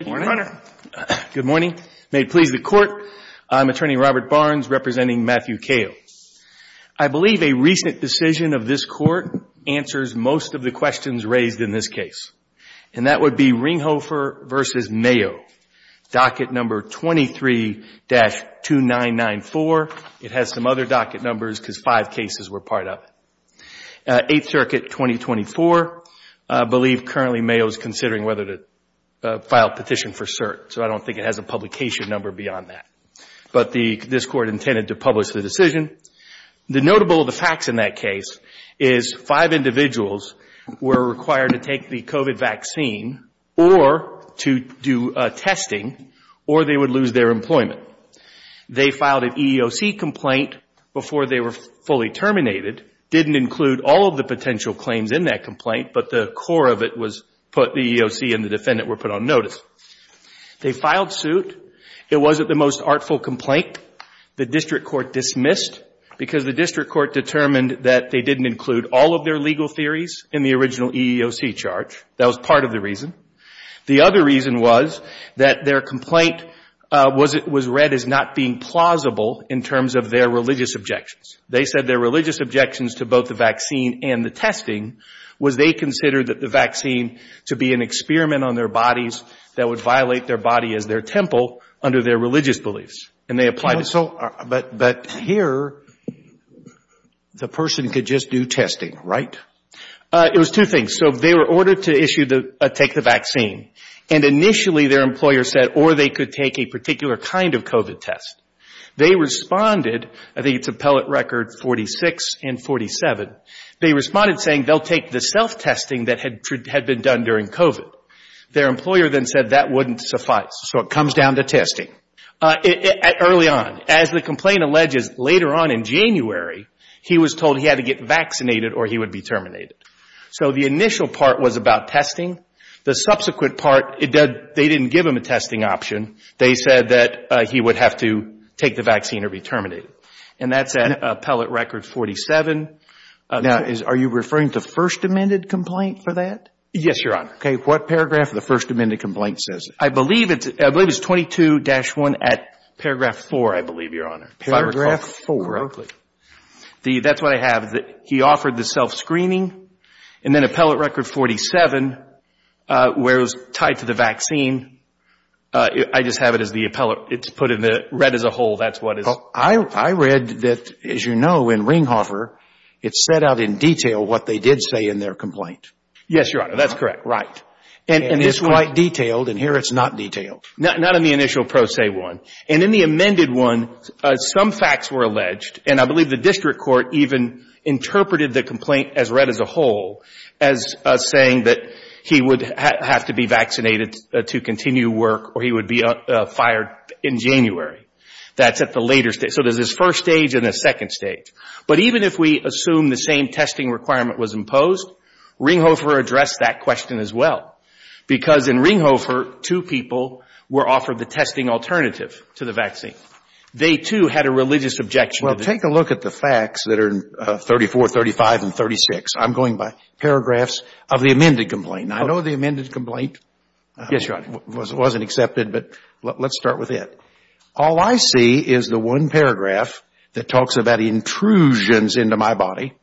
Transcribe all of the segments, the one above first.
Good morning. May it please the Court, I'm Attorney Robert Barnes representing Matthew Kale. I believe a recent decision of this Court answers most of the questions raised in this case, and that would be Ringhofer v. Mayo, docket number 23-2994. It has some other docket numbers because five cases were part of it. Eighth Circuit 2024, I believe currently Mayo is considering whether to file a petition for cert, so I don't think it has a publication number beyond that. But this Court intended to publish the decision. The notable facts in that case is five individuals were required to take the COVID vaccine or to do testing or they would lose their employment. They filed an EEOC complaint before they were fully terminated, didn't include all of the potential claims in that complaint, but the core of it was put, the EEOC and the defendant were put on notice. They filed suit. It wasn't the most artful complaint. The District Court dismissed because the District Court determined that they didn't include all of their legal theories in the original EEOC charge. That was part of the reason. The other reason was that their complaint was read as not being plausible in terms of their religious objections. They said their religious objections to both the vaccine and the testing was they considered the vaccine to be an experiment on their bodies that would violate their body as their temple under their religious beliefs. And they applied it. But here the person could just do testing, right? It was two things. So they were ordered to take the vaccine. And initially their employer said or they could take a particular kind of COVID test. They responded, I think it's appellate record 46 and 47, they responded saying they'll take the self-testing that had been done during COVID. Their employer then said that wouldn't suffice. So it comes down to testing. Early on, as the complaint alleges, later on in January, he was told he had to get vaccinated or he would be terminated. So the initial part was about testing. The subsequent part, they didn't give him a testing option. They said that he would have to take the vaccine or be terminated. And that's at appellate record 47. Now, are you referring to first amended complaint for that? Yes, Your Honor. Okay. What paragraph of the first amended complaint says that? I believe it's 22-1 at paragraph 4, I believe, Your Honor. Paragraph 4. That's what I have. He offered the self-screening and then appellate record 47, where it was tied to the vaccine. I just have it as the appellate. It's put in the red as a whole. That's what it is. I read that, as you know, in Ringhofer, it's set out in detail what they did say in their complaint. Yes, Your Honor. That's correct. Right. And it's quite detailed, and here it's not detailed. Not in the initial pro se one. And in the amended one, some facts were alleged, and I believe the district court even interpreted the complaint as red as a whole as saying that he would have to be vaccinated to continue work or he would be fired in January. That's at the later stage. So there's this first stage and this second stage. But even if we assume the same testing requirement was imposed, Ringhofer addressed that question as well because in Ringhofer, two people were offered the testing alternative to the vaccine. They, too, had a religious objection. Well, take a look at the facts that are in 34, 35, and 36. I'm going by paragraphs of the amended complaint. I know the amended complaint wasn't accepted, but let's start with it. All I see is the one paragraph that talks about intrusions into my body.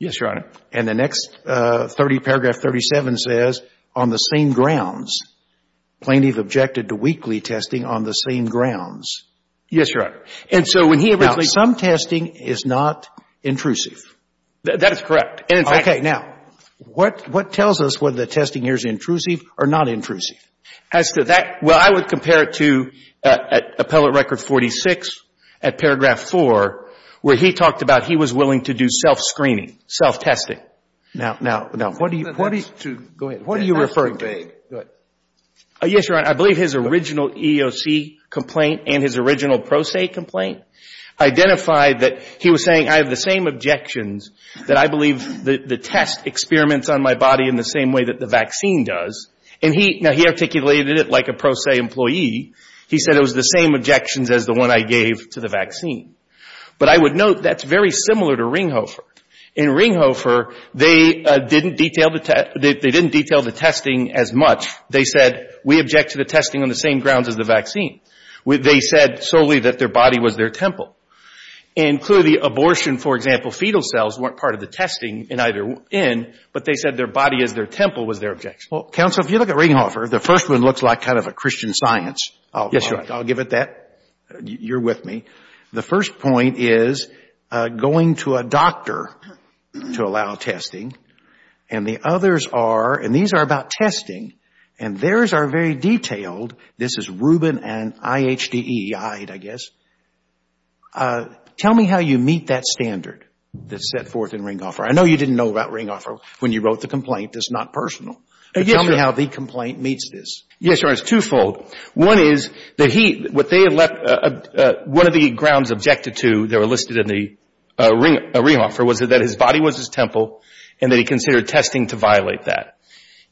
Yes, Your Honor. And the next 30, paragraph 37, says on the same grounds, plaintiff objected to weekly testing on the same grounds. Yes, Your Honor. And so when he originally ---- Now, some testing is not intrusive. That is correct. Okay. Now, what tells us whether the testing here is intrusive or not intrusive? As to that, well, I would compare it to appellate record 46 at paragraph 4 where he talked about he was willing to do self-screening, self-testing. Now, what do you refer to? Yes, Your Honor. I believe his original EEOC complaint and his original Pro Se complaint identified that he was saying, I have the same objections that I believe the test experiments on my body in the same way that the vaccine does. Now, he articulated it like a Pro Se employee. He said it was the same objections as the one I gave to the vaccine. But I would note that's very similar to Ringhofer. In Ringhofer, they didn't detail the testing as much. They said, we object to the testing on the same grounds as the vaccine. They said solely that their body was their temple. And clearly abortion, for example, fetal cells weren't part of the testing in either end, but they said their body as their temple was their objection. Well, counsel, if you look at Ringhofer, the first one looks like kind of a Christian science. Yes, Your Honor. I'll give it that. You're with me. The first point is going to a doctor to allow testing. And the others are, and these are about testing, and theirs are very detailed. This is Rubin and IHDE, I guess. Tell me how you meet that standard that's set forth in Ringhofer. I know you didn't know about Ringhofer when you wrote the complaint. It's not personal. Tell me how the complaint meets this. Yes, Your Honor. It's twofold. One is that he, what they have left, one of the grounds objected to that were listed in the Ringhofer was that his body was his temple and that he considered testing to violate that.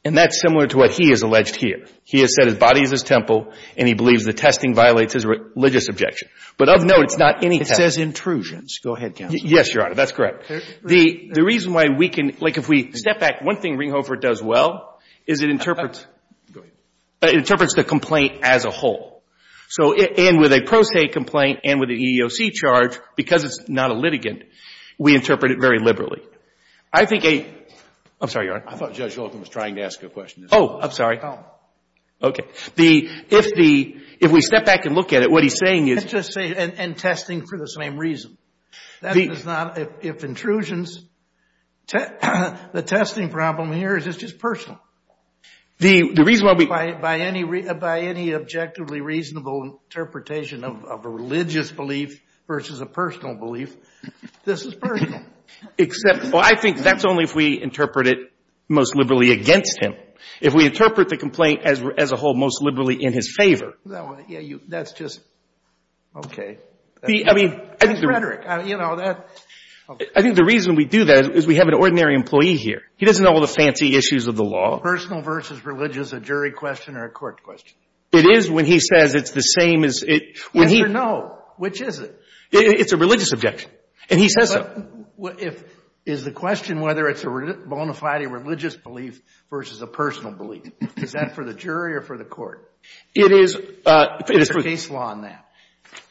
And that's similar to what he has alleged here. He has said his body is his temple, and he believes that testing violates his religious objection. But of note, it's not any testing. It says intrusions. Go ahead, counsel. Yes, Your Honor. That's correct. The reason why we can, like if we step back, one thing Ringhofer does well is it interprets the complaint as a whole. And with a pro se complaint and with an EEOC charge, because it's not a litigant, we interpret it very liberally. I think a, I'm sorry, Your Honor. I thought Judge Holcomb was trying to ask a question. Oh, I'm sorry. Okay. If we step back and look at it, what he's saying is. And testing for the same reason. That is not, if intrusions, the testing problem here is it's just personal. The reason why we. By any objectively reasonable interpretation of a religious belief versus a personal belief, this is personal. Except, well, I think that's only if we interpret it most liberally against him. If we interpret the complaint as a whole most liberally in his favor. That's just, okay. I mean. That's rhetoric. You know, that. I think the reason we do that is we have an ordinary employee here. He doesn't know all the fancy issues of the law. Personal versus religious, a jury question or a court question? It is when he says it's the same as, when he. Yes or no? Which is it? It's a religious objection. And he says so. Is the question whether it's a bona fide religious belief versus a personal belief? Is that for the jury or for the court? It is. There's a case law on that.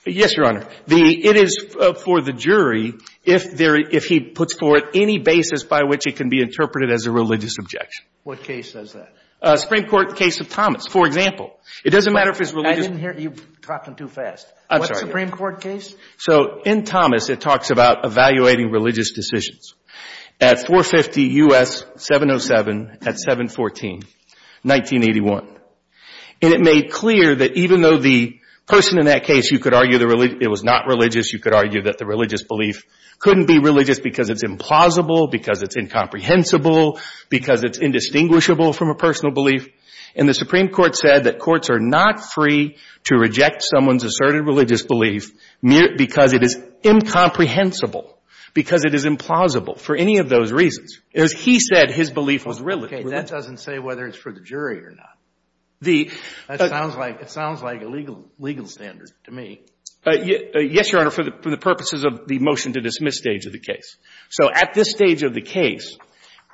Yes, Your Honor. It is for the jury if he puts forward any basis by which it can be interpreted as a religious objection. What case does that? Supreme Court case of Thomas, for example. It doesn't matter if it's religious. I didn't hear. You're talking too fast. I'm sorry. What Supreme Court case? So in Thomas, it talks about evaluating religious decisions. At 450 U.S. 707 at 714, 1981. And it made clear that even though the person in that case, you could argue it was not religious, you could argue that the religious belief couldn't be religious because it's implausible, because it's incomprehensible, because it's indistinguishable from a personal belief. And the Supreme Court said that courts are not free to reject someone's asserted religious belief because it is incomprehensible, because it is implausible, for any of those reasons. As he said, his belief was religious. Okay. That doesn't say whether it's for the jury or not. It sounds like a legal standard to me. Yes, Your Honor, for the purposes of the motion to dismiss stage of the case. So at this stage of the case,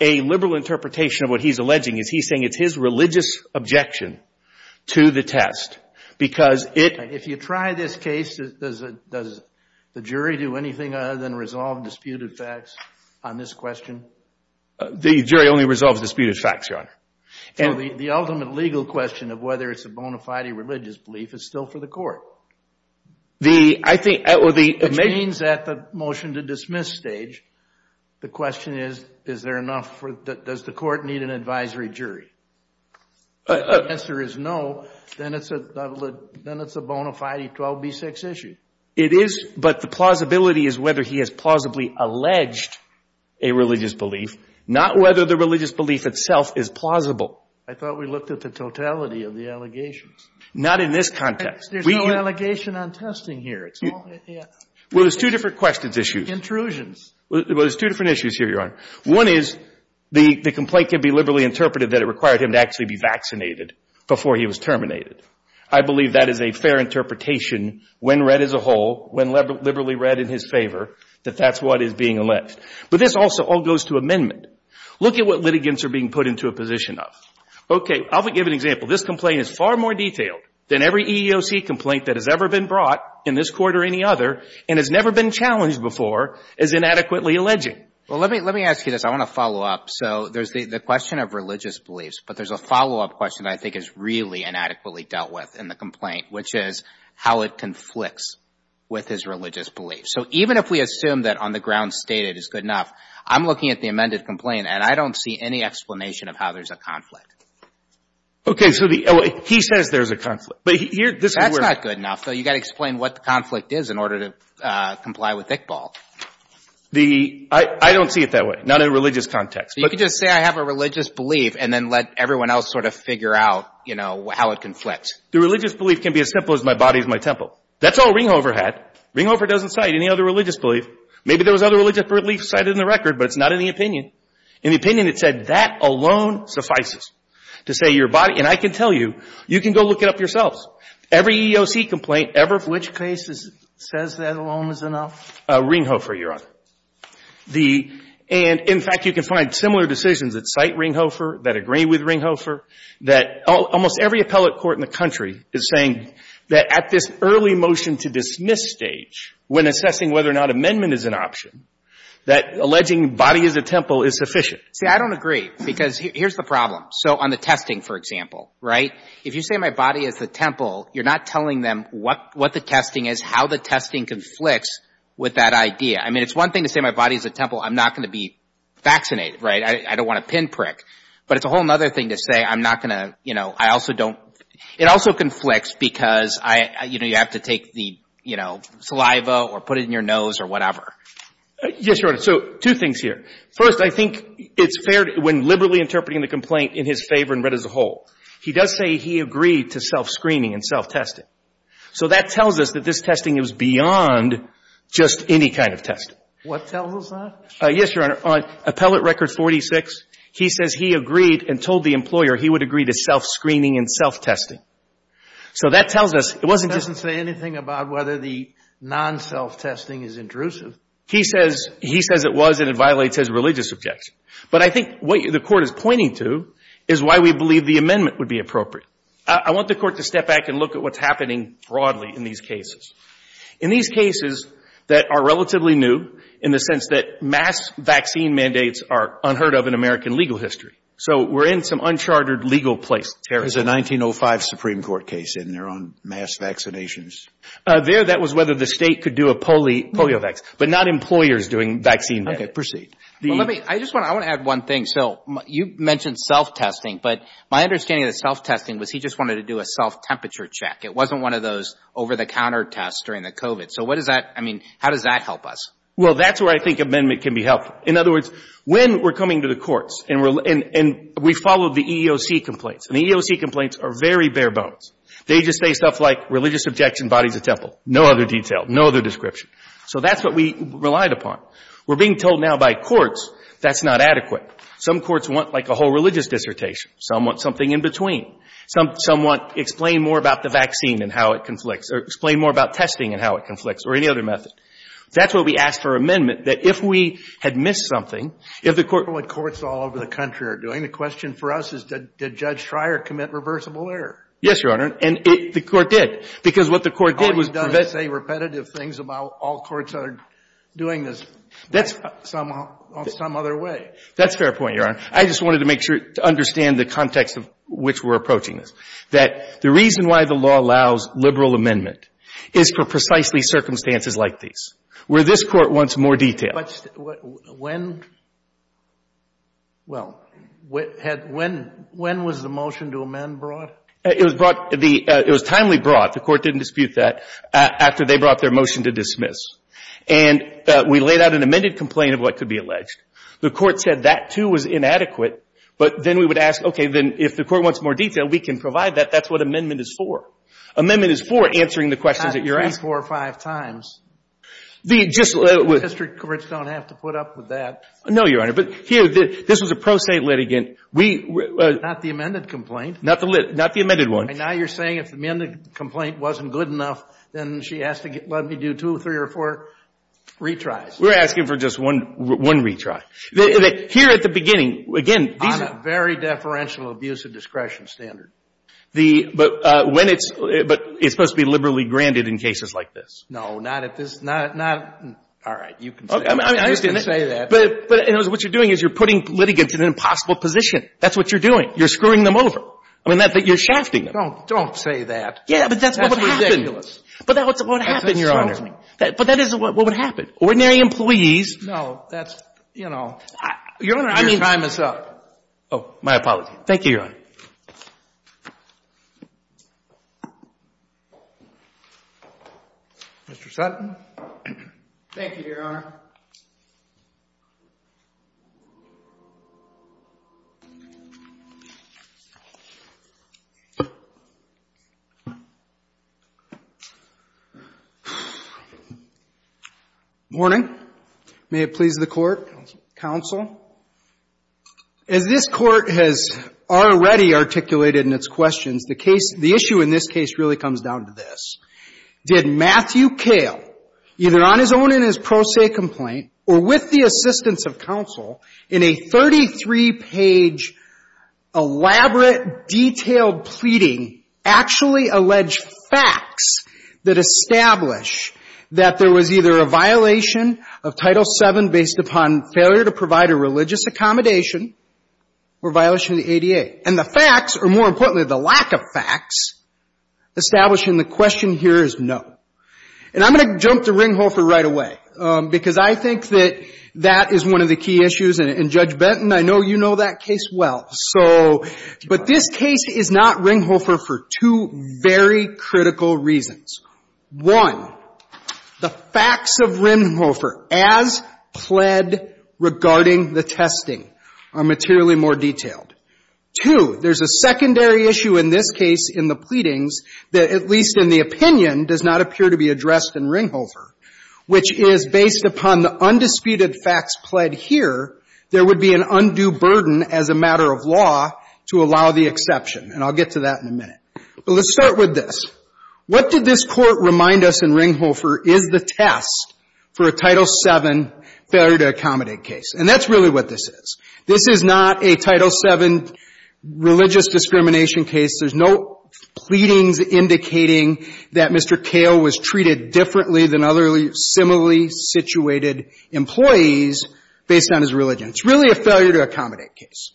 a liberal interpretation of what he's alleging is he's saying it's his religious objection to the test. If you try this case, does the jury do anything other than resolve disputed facts on this question? The jury only resolves disputed facts, Your Honor. The ultimate legal question of whether it's a bona fide religious belief is still for the court. I think, well the It means that the motion to dismiss stage, the question is, is there enough for, does the court need an advisory jury? If the answer is no, then it's a bona fide 12B6 issue. It is, but the plausibility is whether he has plausibly alleged a religious belief, not whether the religious belief itself is plausible. I thought we looked at the totality of the allegations. Not in this context. There's no allegation on testing here. Well, there's two different questions issues. Intrusions. Well, there's two different issues here, Your Honor. One is the complaint can be liberally interpreted that it required him to actually be vaccinated before he was terminated. I believe that is a fair interpretation when read as a whole, when liberally read in his favor, that that's what is being alleged. But this also all goes to amendment. Look at what litigants are being put into a position of. Okay. I'll give an example. This complaint is far more detailed than every EEOC complaint that has ever been brought in this court or any other and has never been challenged before as inadequately alleging. Well, let me ask you this. I want to follow up. So there's the question of religious beliefs. But there's a follow-up question I think is really inadequately dealt with in the complaint, which is how it conflicts with his religious beliefs. So even if we assume that on the ground stated is good enough, I'm looking at the amended complaint, and I don't see any explanation of how there's a conflict. Okay. So he says there's a conflict. That's not good enough, though. You've got to explain what the conflict is in order to comply with Iqbal. I don't see it that way, not in a religious context. You could just say I have a religious belief and then let everyone else sort of figure out, you know, how it conflicts. The religious belief can be as simple as my body is my temple. That's all Ringhofer had. Ringhofer doesn't cite any other religious belief. Maybe there was other religious beliefs cited in the record, but it's not in the opinion. In the opinion, it said that alone suffices to say your body – and I can tell you, you can go look it up yourselves. Every EEOC complaint ever – Which case says that alone is enough? Ringhofer, Your Honor. And, in fact, you can find similar decisions that cite Ringhofer, that agree with Ringhofer, that almost every appellate court in the country is saying that at this early motion-to-dismiss stage, when assessing whether or not amendment is an option, that alleging body is a temple is sufficient. See, I don't agree, because here's the problem. So on the testing, for example, right, if you say my body is the temple, you're not telling them what the testing is, how the testing conflicts with that idea. I mean, it's one thing to say my body is a temple. I'm not going to be vaccinated, right? I don't want to pinprick. But it's a whole other thing to say I'm not going to – you know, I also don't – it also conflicts because I – you know, you have to take the, you know, saliva or put it in your nose or whatever. Yes, Your Honor. So two things here. First, I think it's fair when liberally interpreting the complaint in his favor and read as a whole. He does say he agreed to self-screening and self-testing. So that tells us that this testing is beyond just any kind of testing. What tells us that? Yes, Your Honor. On Appellate Record 46, he says he agreed and told the employer he would agree to self-screening and self-testing. So that tells us it wasn't just – It doesn't say anything about whether the non-self-testing is intrusive. He says – he says it was and it violates his religious objection. But I think what the Court is pointing to is why we believe the amendment would be appropriate. I want the Court to step back and look at what's happening broadly in these cases. In these cases that are relatively new in the sense that mass vaccine mandates are unheard of in American legal history. So we're in some uncharted legal place. There's a 1905 Supreme Court case in there on mass vaccinations. There, that was whether the State could do a polio vaccine, but not employers doing vaccine. Okay, proceed. Well, let me – I just want to – I want to add one thing. So you mentioned self-testing, but my understanding of self-testing was he just wanted to do a self-temperature check. It wasn't one of those over-the-counter tests during the COVID. So what does that – I mean, how does that help us? Well, that's where I think amendment can be helpful. In other words, when we're coming to the courts and we followed the EEOC complaints, and the EEOC complaints are very bare bones. They just say stuff like religious objection, bodies of temple. No other detail. No other description. So that's what we relied upon. We're being told now by courts that's not adequate. Some courts want, like, a whole religious dissertation. Some want something in between. Some want explain more about the vaccine and how it conflicts, or explain more about testing and how it conflicts, or any other method. That's what we asked for amendment, that if we had missed something, if the court What courts all over the country are doing, the question for us is did Judge Schreier commit reversible error? Yes, Your Honor. And it – the court did. Because what the court did was prevent about all courts are doing this on some other way. That's a fair point, Your Honor. I just wanted to make sure to understand the context of which we're approaching this. That the reason why the law allows liberal amendment is for precisely circumstances like these, where this Court wants more detail. But when – well, when was the motion to amend brought? It was brought – it was timely brought. The Court didn't dispute that. After they brought their motion to dismiss. And we laid out an amended complaint of what could be alleged. The Court said that, too, was inadequate. But then we would ask, okay, then if the Court wants more detail, we can provide that. That's what amendment is for. Amendment is for answering the questions that you're asking. Not three, four, or five times. The – just – District courts don't have to put up with that. No, Your Honor. But here, this was a pro se litigant. We – Not the amended complaint. Not the lit – not the amended one. Now you're saying if the amended complaint wasn't good enough, then she has to let me do two, three, or four retries. We're asking for just one – one retry. Here at the beginning, again, these are – On a very deferential abuse of discretion standard. The – but when it's – but it's supposed to be liberally granted in cases like this. No, not at this – not – all right. You can say that. I understand that. You can say that. But what you're doing is you're putting litigants in an impossible position. That's what you're doing. You're screwing them over. I mean, you're shafting them. Don't – don't say that. Yeah, but that's what would happen. But that's what would happen, Your Honor. But that is what would happen. Ordinary employees – No, that's – you know. Your Honor, I mean – Your time is up. Oh, my apologies. Thank you, Your Honor. Mr. Sutton. Thank you, Your Honor. Morning. May it please the Court. Counsel. Counsel. As this Court has already articulated in its questions, the case – the issue in this case really comes down to this. Did Matthew Kale, either on his own in his pro se complaint or with the assistance of counsel, in a 33-page, elaborate, detailed pleading, actually allege facts that establish that there was either a violation of Title VII based upon failure to provide a religious accommodation or violation of the ADA? And the facts, or more importantly, the lack of facts, establishing the question here is no. And I'm going to jump to Ringhofer right away because I think that that is one of the key issues. And, Judge Benton, I know you know that case well. So – but this case is not Ringhofer for two very critical reasons. One, the facts of Ringhofer as pled regarding the testing are materially more detailed. Two, there's a secondary issue in this case in the pleadings that, at least in the opinion, does not appear to be addressed in Ringhofer, which is, based upon the undisputed facts pled here, there would be an undue burden as a matter of law to allow the exception. And I'll get to that in a minute. But let's start with this. What did this Court remind us in Ringhofer is the test for a Title VII failure to accommodate case? And that's really what this is. This is not a Title VII religious discrimination case. There's no pleadings indicating that Mr. Kale was treated differently than other similarly situated employees based on his religion. It's really a failure to accommodate case.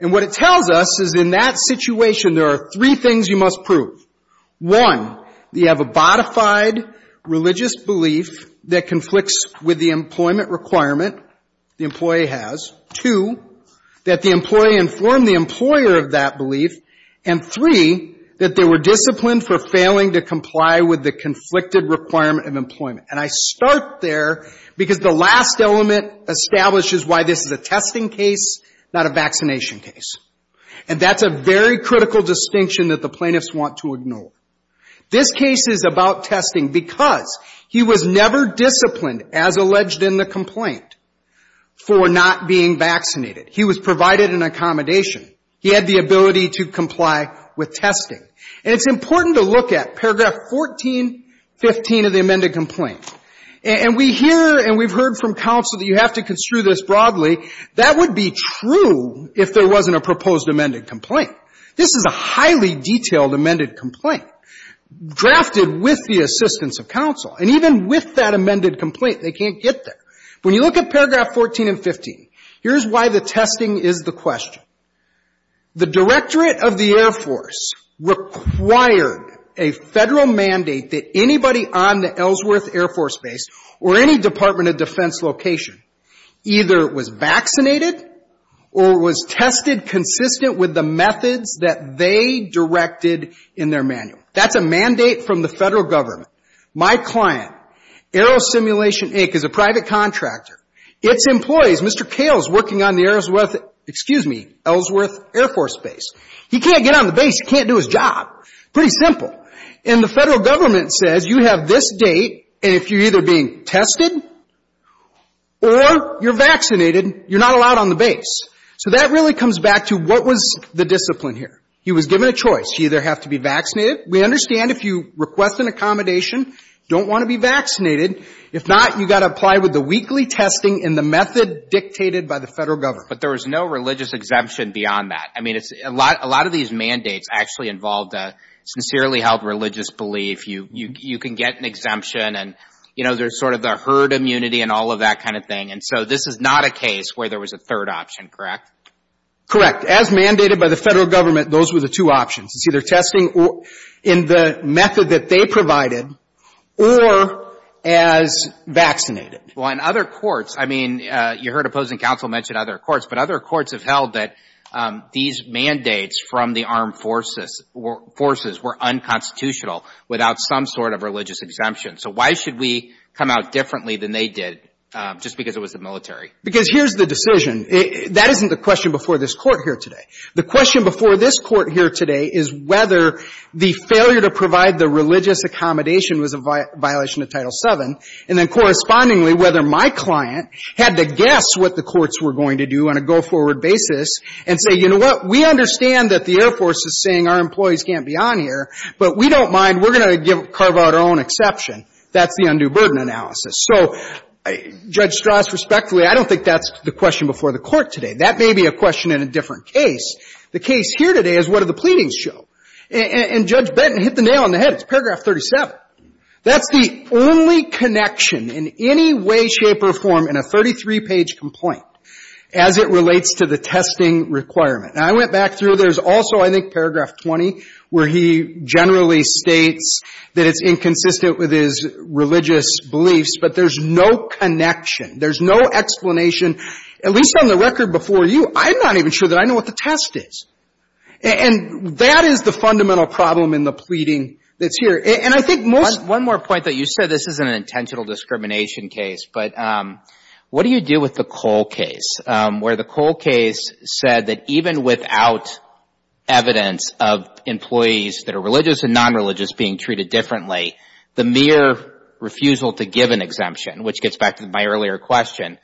And what it tells us is in that situation, there are three things you must prove. One, you have a bodified religious belief that conflicts with the employment requirement the employee has. Two, that the employee informed the employer of that belief. And three, that they were disciplined for failing to comply with the conflicted requirement of employment. And I start there because the last element establishes why this is a testing case, not a vaccination case. And that's a very critical distinction that the plaintiffs want to ignore. This case is about testing because he was never disciplined, as alleged in the complaint, for not being vaccinated. He was provided an accommodation. He had the ability to comply with testing. And it's important to look at paragraph 1415 of the amended complaint. And we hear and we've heard from counsel that you have to construe this broadly. That would be true if there wasn't a proposed amended complaint. This is a highly detailed amended complaint, drafted with the assistance of counsel. And even with that amended complaint, they can't get there. When you look at paragraph 1415, here's why the testing is the question. The Directorate of the Air Force required a Federal mandate that anybody on the Ellsworth Air Force Base or any Department of Defense location either was vaccinated or was tested consistent with the methods that they directed in their manual. That's a mandate from the Federal Government. My client, Aerosimulation, Inc., is a private contractor. Its employees, Mr. Cale is working on the Ellsworth Air Force Base. He can't get on the base. He can't do his job. Pretty simple. And the Federal Government says you have this date, and if you're either being tested or you're vaccinated, you're not allowed on the base. So that really comes back to what was the discipline here. He was given a choice. You either have to be vaccinated. We understand if you request an accommodation, don't want to be vaccinated. If not, you've got to apply with the weekly testing and the method dictated by the Federal Government. But there was no religious exemption beyond that. I mean, a lot of these mandates actually involved a sincerely held religious belief. You can get an exemption, and, you know, there's sort of the herd immunity and all of that kind of thing. And so this is not a case where there was a third option, correct? Correct. As mandated by the Federal Government, those were the two options. It's either testing in the method that they provided or as vaccinated. Well, in other courts, I mean, you heard opposing counsel mention other courts. But other courts have held that these mandates from the armed forces were unconstitutional without some sort of religious exemption. So why should we come out differently than they did just because it was the military? Because here's the decision. That isn't the question before this Court here today. The question before this Court here today is whether the failure to provide the religious accommodation was a violation of Title VII. And then correspondingly, whether my client had to guess what the courts were going to do on a go-forward basis and say, you know what, we understand that the Air Force is saying our employees can't be on here, but we don't mind, we're going to carve out our own exception. That's the undue burden analysis. So Judge Strauss, respectfully, I don't think that's the question before the Court today. That may be a question in a different case. The case here today is what do the pleadings show? And Judge Benton hit the nail on the head. It's paragraph 37. That's the only connection in any way, shape, or form in a 33-page complaint as it relates to the testing requirement. Now, I went back through. There's also, I think, paragraph 20 where he generally states that it's inconsistent with his religious beliefs, but there's no connection. There's no explanation. At least on the record before you, I'm not even sure that I know what the test is. And that is the fundamental problem in the pleading that's here. And I think most One more point that you said. This isn't an intentional discrimination case, but what do you do with the Cole case? Where the Cole case said that even without evidence of employees that are religious and non-religious being treated differently, the mere refusal to give an exemption, which gets back to my earlier question,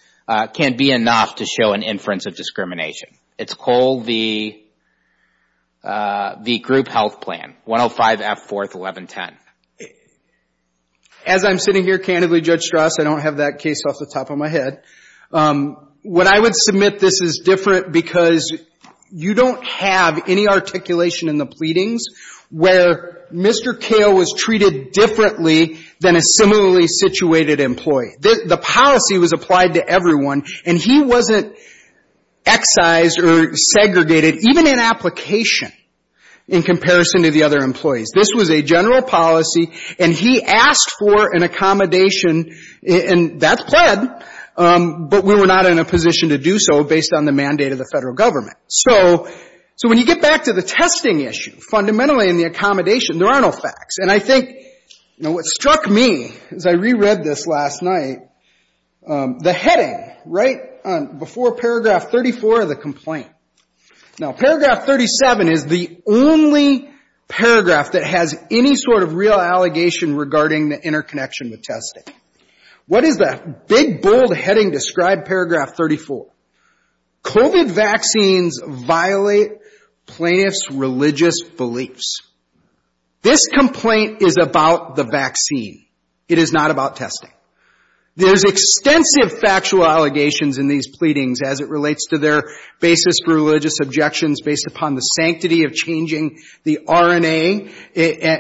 can't be enough to show an inference of discrimination. It's Cole v. Group Health Plan, 105 F. 4th, 1110. As I'm sitting here candidly, Judge Strauss, I don't have that case off the top of my head. What I would submit this is different because you don't have any articulation in the pleadings where Mr. Cale was treated differently than a similarly situated employee. The policy was applied to everyone, and he wasn't excised or segregated, even in application in comparison to the other employees. This was a general policy, and he asked for an accommodation, and that's pled, but we were not in a position to do so based on the mandate of the Federal Government. So when you get back to the testing issue, fundamentally in the accommodation, there are no facts. And I think, you know, what struck me as I reread this last night, the heading right before Paragraph 34 of the complaint. Now, Paragraph 37 is the only paragraph that has any sort of real allegation regarding the interconnection with testing. What does that big, bold heading describe, Paragraph 34? COVID vaccines violate plaintiffs' religious beliefs. This complaint is about the vaccine. It is not about testing. There's extensive factual allegations in these pleadings as it relates to their basis for religious objections based upon the sanctity of changing the RNA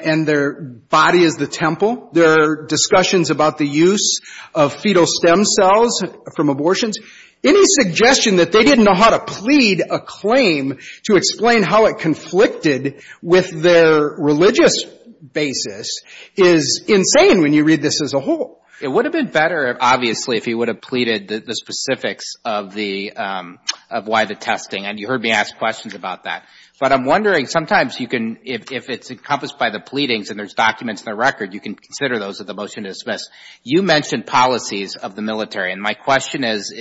and their body as the temple, their discussions about the use of fetal stem cells from abortions, any suggestion that they didn't know how to plead a claim to explain how it conflicted with their religious basis is insane when you read this as a whole. It would have been better, obviously, if you would have pleaded the specifics of why the testing, and you heard me ask questions about that. But I'm wondering, sometimes you can, if it's encompassed by the pleadings and there's documents in the record, you can consider those with the motion to dismiss. You mentioned policies of the military, and my question is,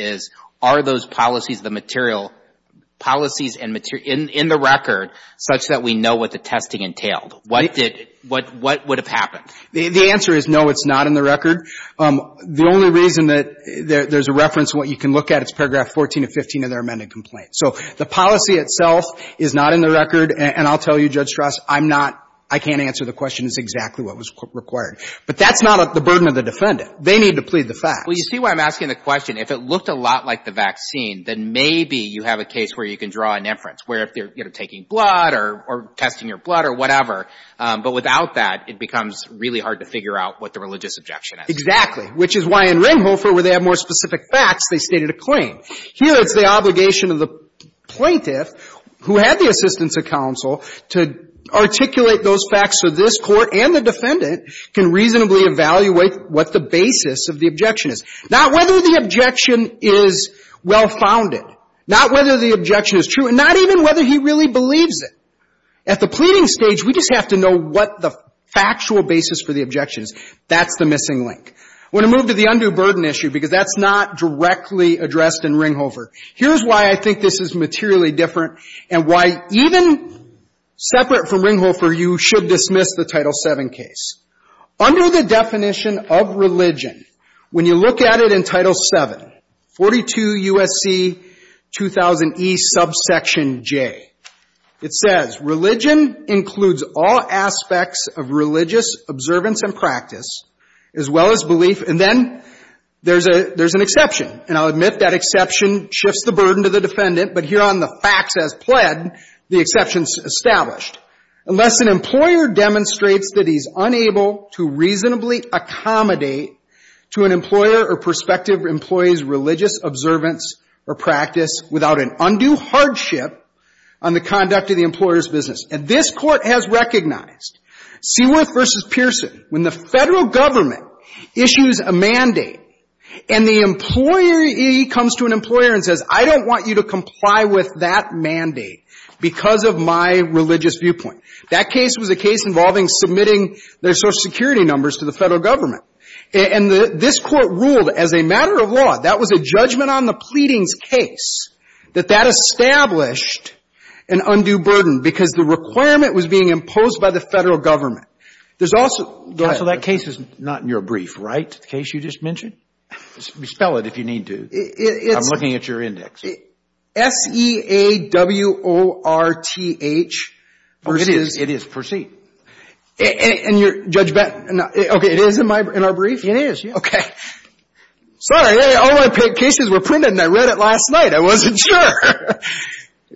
are those policies the material, policies in the record such that we know what the testing entailed? What did, what would have happened? The answer is no, it's not in the record. The only reason that there's a reference to what you can look at is Paragraph 14 and 15 of their amended complaint. So the policy itself is not in the record, and I'll tell you, Judge Strauss, I'm not, I can't answer the question is exactly what was required. But that's not the burden of the defendant. They need to plead the fact. Well, you see why I'm asking the question. If it looked a lot like the vaccine, then maybe you have a case where you can draw an inference, where if they're, you know, taking blood or testing your blood or whatever. But without that, it becomes really hard to figure out what the religious objection is. Exactly. Which is why in Ringhofer, where they have more specific facts, they stated a claim. Here, it's the obligation of the plaintiff, who had the assistance of counsel, to articulate those facts so this Court and the defendant can reasonably evaluate what the basis of the objection is. Not whether the objection is well-founded. Not whether the objection is true, and not even whether he really believes it. At the pleading stage, we just have to know what the factual basis for the objection is. That's the missing link. I want to move to the undue burden issue, because that's not directly addressed in Ringhofer. Here's why I think this is materially different, and why even separate from Ringhofer, you should dismiss the Title VII case. Under the definition of religion, when you look at it in Title VII, 42 U.S.C. 2000e subsection J, it says, religion includes all aspects of religious observance and practice, as well as belief. And then there's an exception. And I'll admit that exception shifts the burden to the defendant. But here on the facts as pled, the exception's established. Unless an employer demonstrates that he's unable to reasonably accommodate to an employer or prospective employee's religious observance or practice without an undue hardship on the conduct of the employer's business. And this Court has recognized, Seaworth v. Pearson, when the Federal Government issues a mandate, and the employee comes to an employer and says, I don't want you to comply with that mandate because of my religious viewpoint. That case was a case involving submitting their Social Security numbers to the Federal Government. And this Court ruled as a matter of law, that was a judgment on the pleadings case, that that established an undue burden because the requirement was being imposed by the Federal Government. There's also go ahead. So that case is not in your brief, right? The case you just mentioned? Spell it if you need to. It's I'm looking at your index. S-E-A-W-O-R-T-H It is. It is. Proceed. And you're, Judge Benton. Okay. It is in my, in our brief? It is, yeah. Okay. Sorry. All my cases were printed and I read it last night. I wasn't sure.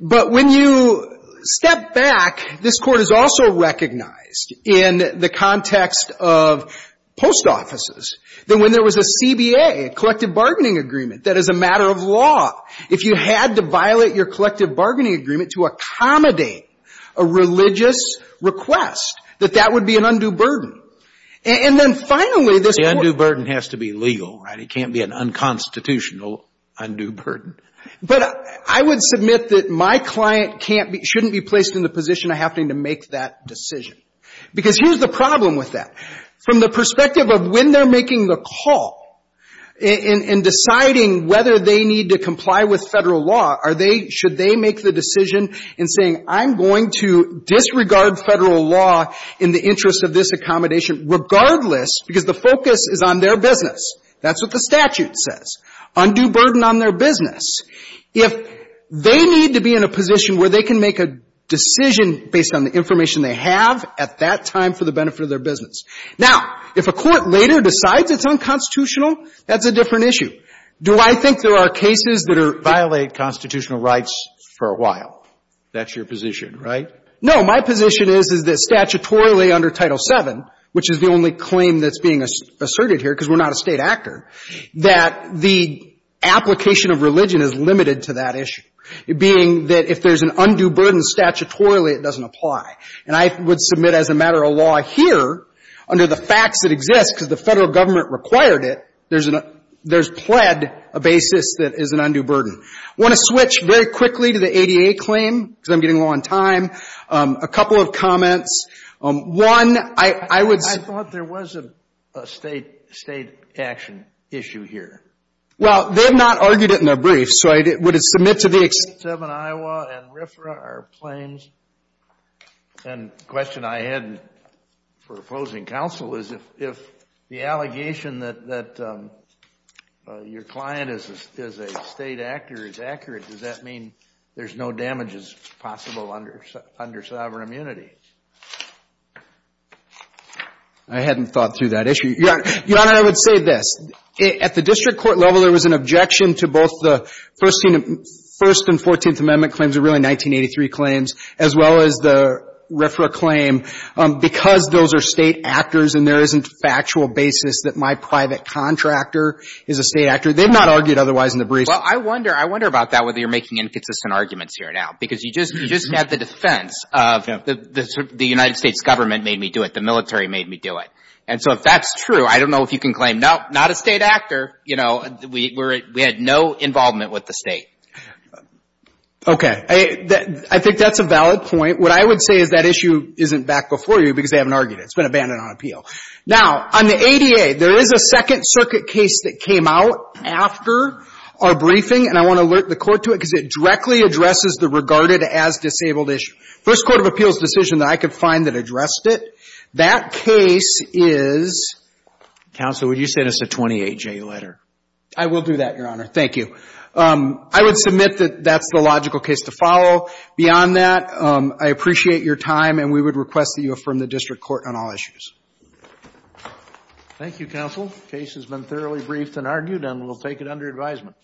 But when you step back, this Court has also recognized in the context of post offices, that when there was a CBA, a collective bargaining agreement, that as a matter of law, if you had to violate your collective bargaining agreement to accommodate a religious request, that that would be an undue burden. And then finally, this Court The undue burden has to be legal, right? It can't be an unconstitutional undue burden. But I would submit that my client can't be, shouldn't be placed in the position of having to make that decision. Because here's the problem with that. From the perspective of when they're making the call in deciding whether they need to comply with federal law, are they, should they make the decision in saying, I'm going to disregard federal law in the interest of this accommodation, regardless, because the focus is on their business. That's what the statute says. Undue burden on their business. If they need to be in a position where they can make a decision based on the information they have at that time for the benefit of their business. Now, if a court later decides it's unconstitutional, that's a different issue. Do I think there are cases that violate constitutional rights for a while? That's your position, right? No. My position is, is that statutorily under Title VII, which is the only claim that's being asserted here, because we're not a State actor, that the application of religion is limited to that issue. It being that if there's an undue burden statutorily, it doesn't apply. And I would submit as a matter of law here, under the facts that exist, because the federal government required it, there's pled a basis that is an undue burden. I want to switch very quickly to the ADA claim, because I'm getting low on time. A couple of comments. One, I would say. I thought there was a State action issue here. Well, they have not argued it in their brief. So would it submit to the ex- State VII Iowa and RFRA are claims. And the question I had for opposing counsel is, if the allegation that your client is a State actor is accurate, does that mean there's no damages possible under sovereign immunity? I hadn't thought through that issue. Your Honor, I would say this. At the district court level, there was an objection to both the First and Fourteenth Amendment claims, or really 1983 claims, as well as the RFRA claim. Because those are State actors and there isn't factual basis that my private contractor is a State actor, they've not argued otherwise in the brief. Well, I wonder about that, whether you're making inconsistent arguments here now. Because you just had the defense of the United States government made me do it, the military made me do it. And so if that's true, I don't know if you can claim, nope, not a State actor. You know, we had no involvement with the State. Okay. I think that's a valid point. What I would say is that issue isn't back before you because they haven't argued it. It's been abandoned on appeal. Now, on the ADA, there is a Second Circuit case that came out after our briefing, and I want to alert the Court to it because it directly addresses the regarded as disabled issue. First Court of Appeals decision that I could find that addressed it, that case is. Counsel, would you send us a 28-J letter? I will do that, Your Honor. Thank you. I would submit that that's the logical case to follow. Beyond that, I appreciate your time, and we would request that you affirm the district court on all issues. Thank you, counsel. The case has been thoroughly briefed and argued, and we'll take it under advisement.